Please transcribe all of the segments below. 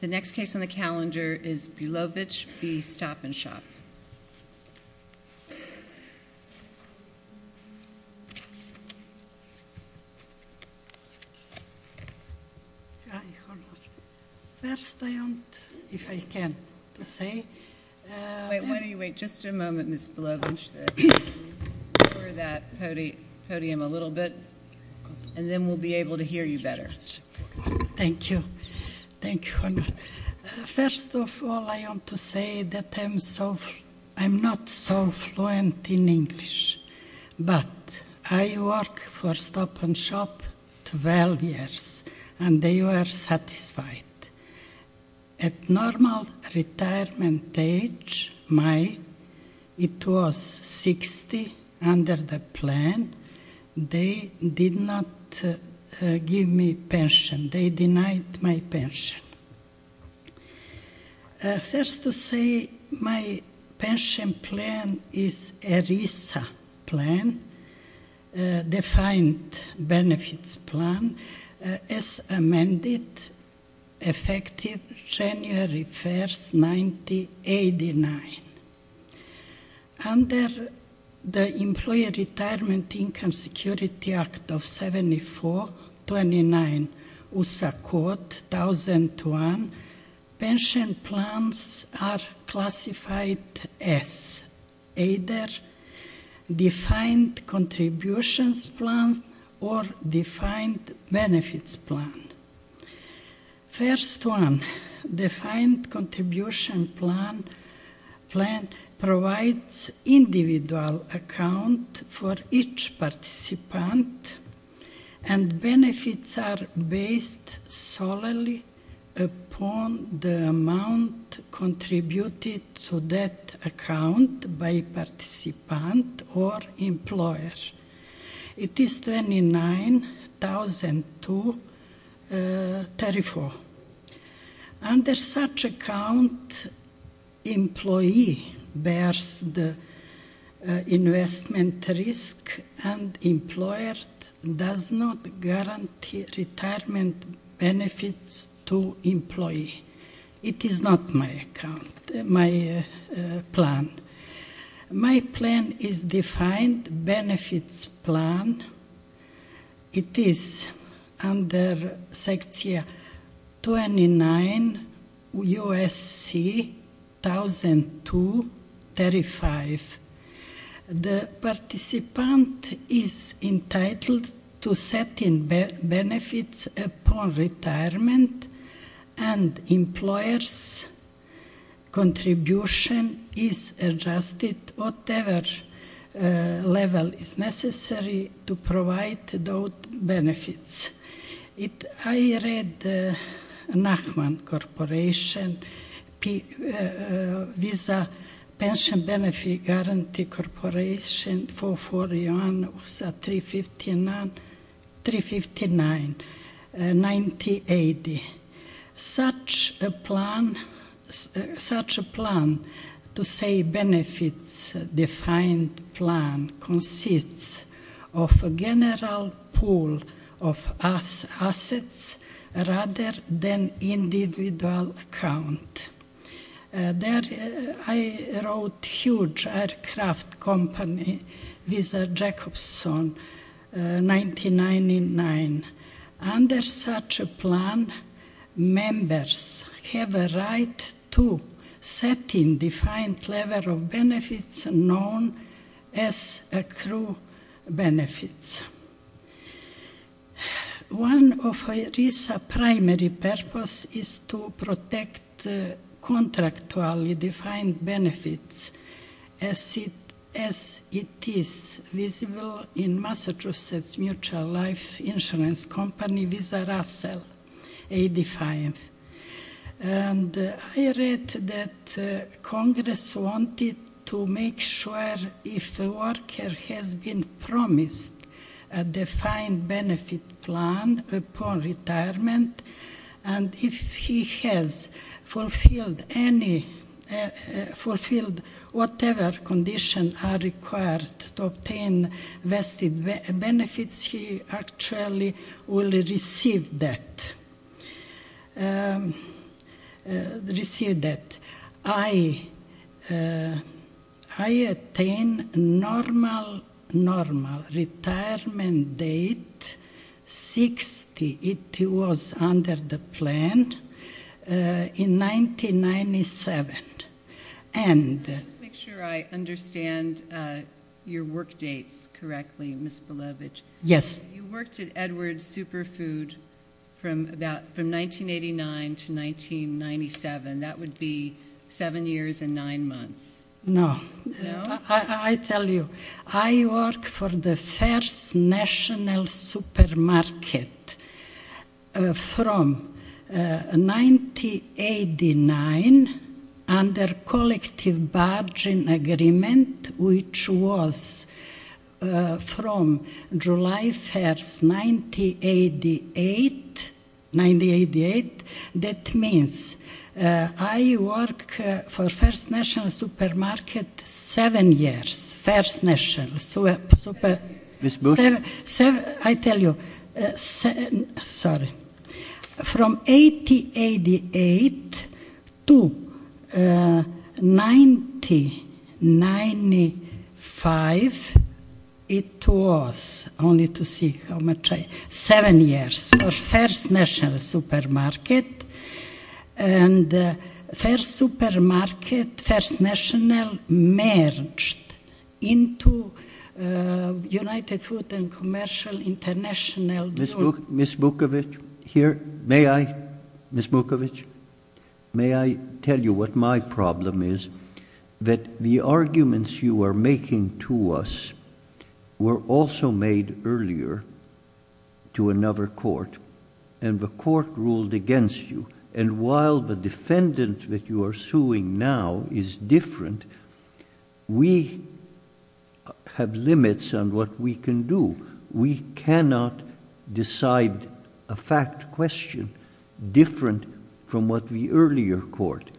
The next case on the calendar is Belovic v. Stop & Shop. Why don't you wait just a moment, Ms. Belovic, for that podium a little bit, and then we'll be able to hear you better. Thank you. Thank you. First of all, I want to say that I'm not so fluent in English, but I worked for Stop & Shop for 12 years, and they were satisfied. At normal retirement age, it was 60 under the plan. They did not give me pension. They denied my pension. First to say, my pension plan is ERISA plan, defined benefits plan, as amended, effective January 1, 1989. Under the Employee Retirement Income Security Act of 7429 USA Code 1001, pension plans are classified as either defined contributions plans or defined benefits plans. First one, defined contribution plan provides individual account for each participant, and benefits are based solely upon the amount contributed to that account by participant or employer. It is 29,000 to 34. Under such account, employee bears the investment risk, and employer does not guarantee retirement benefits to employee. It is not my account, my plan. My plan is defined benefits plan. It is under section 29 USC 1002-35. The participant is entitled to set in benefits upon retirement, and employer's contribution is adjusted whatever level is necessary to provide those benefits. I read Nachman Corporation, Visa Pension Benefit Guarantee Corporation, 441 USA 359, 1980. Such a plan, to say benefits defined plan, consists of a general pool of assets rather than individual account. There I wrote huge aircraft company, Visa Jacobson, 1999. Under such a plan, members have a right to set in defined level of benefits known as accrued benefits. One of RISA primary purpose is to protect contractually defined benefits as it is visible in Massachusetts Mutual Life Insurance Company, Visa Russell, 85. I read that Congress wanted to make sure if a worker has been promised a defined benefit plan upon retirement, and if he has fulfilled whatever conditions are required to obtain vested benefits, he actually will receive that. I attained normal retirement date, 60, it was under the plan, in 1997. Just to make sure I understand your work dates correctly, Ms. Belovich. Yes. You worked at Edwards Superfood from 1989 to 1997. That would be seven years and nine months. No. I tell you, I worked for the first national supermarket from 1989 under collective bargain agreement, which was from July 1st, 1988. That means I worked for first national supermarket seven years, first national supermarket. Ms. Belovich. First national supermarket. First supermarket, first national merged into United Food and Commercial International Group. Ms. Belovich, may I tell you what my problem is? That the arguments you are making to us were also made earlier to another court, and the court ruled against you. While the defendant that you are suing now is different, we have limits on what we can do. We cannot decide a fact question different from what the earlier court...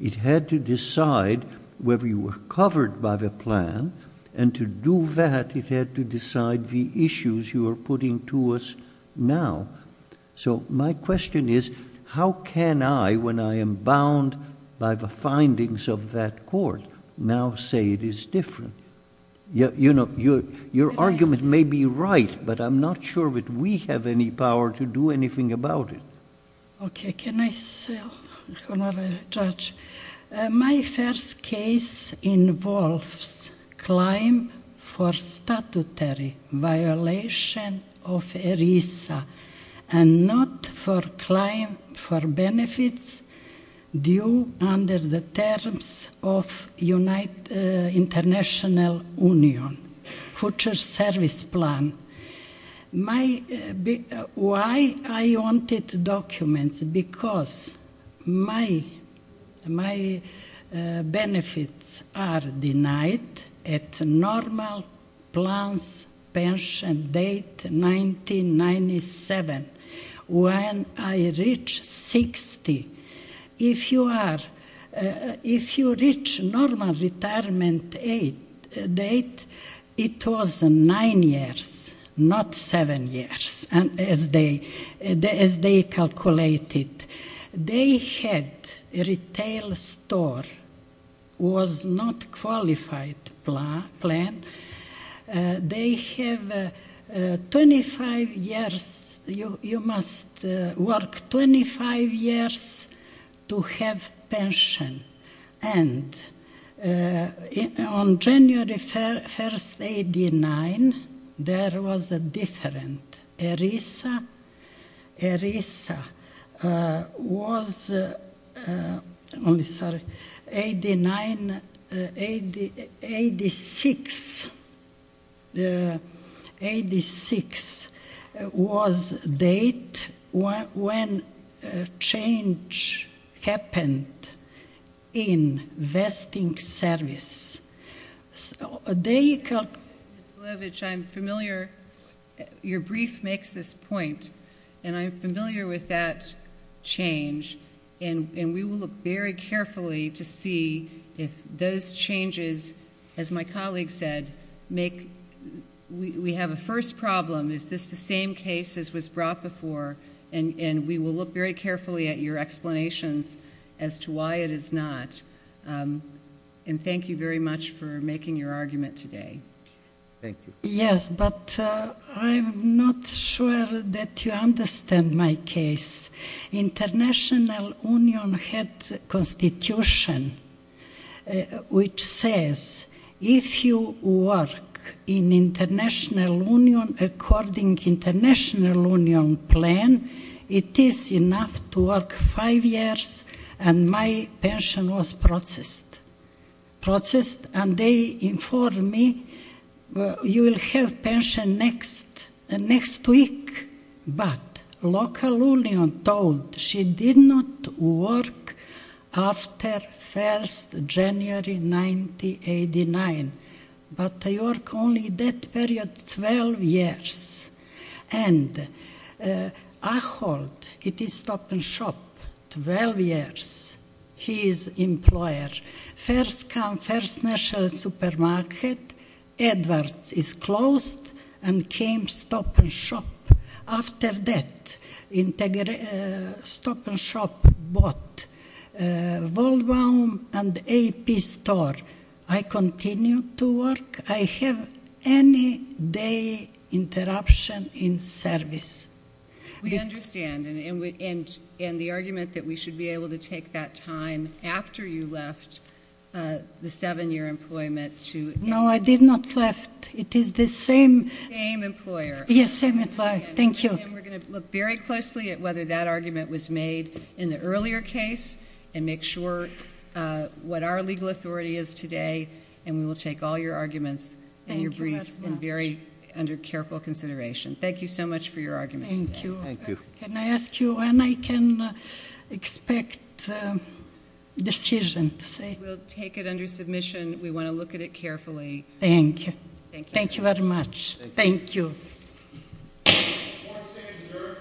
It had to decide whether you were covered by the plan, and to do that, it had to decide the issues you are putting to us now. My question is, how can I, when I am bound by the findings of that court, now say it is different? Your argument may be right, but I'm not sure that we have any power to do anything about it. Okay, can I say, Honorary Judge? My first case involves claim for statutory violation of ERISA, and not for claim for benefits due under the terms of United International Union, Future Service Plan. Why I wanted documents? Because my benefits are denied at normal plans pension date 1997, when I reached 60. If you reach normal retirement date, it was nine years, not seven years, as they calculated. They had a retail store, was not qualified plan. They have 25 years, you must work 25 years to have pension. On January 1st, 1989, there was a difference. ERISA was, I'm sorry, 86 was date when change happened in vesting service. So there you come. Ms. Glovich, I'm familiar, your brief makes this point, and I'm familiar with that change. And we will look very carefully to see if those changes, as my colleague said, make, we have a first problem. Is this the same case as was brought before? And we will look very carefully at your explanations as to why it is not. And thank you very much for making your argument today. Thank you. Yes, but I'm not sure that you understand my case. International Union had constitution which says if you work in International Union according International Union plan, it is enough to work five years, and my pension was processed. Processed, and they informed me, you will have pension next week. But local union told she did not work after 1st January, 1989. But I work only that period 12 years. And I hold, it is stop and shop, 12 years. He is employer. First come first national supermarket, Edwards is closed, and came stop and shop. After that, stop and shop bought. I continue to work. I have any day interruption in service. We understand, and the argument that we should be able to take that time after you left the seven-year employment to No, I did not left. It is the same. Same employer. Yes, same employer. Thank you. And we are going to look very closely at whether that argument was made in the earlier case, and make sure what our legal authority is today, and we will take all your arguments and your briefs and very under careful consideration. Thank you so much for your arguments. Thank you. Thank you. Can I ask you when I can expect decision to say? We will take it under submission. We want to look at it carefully. Thank you. Thank you. Thank you very much. Thank you. Thank you. Thank you. Thank you.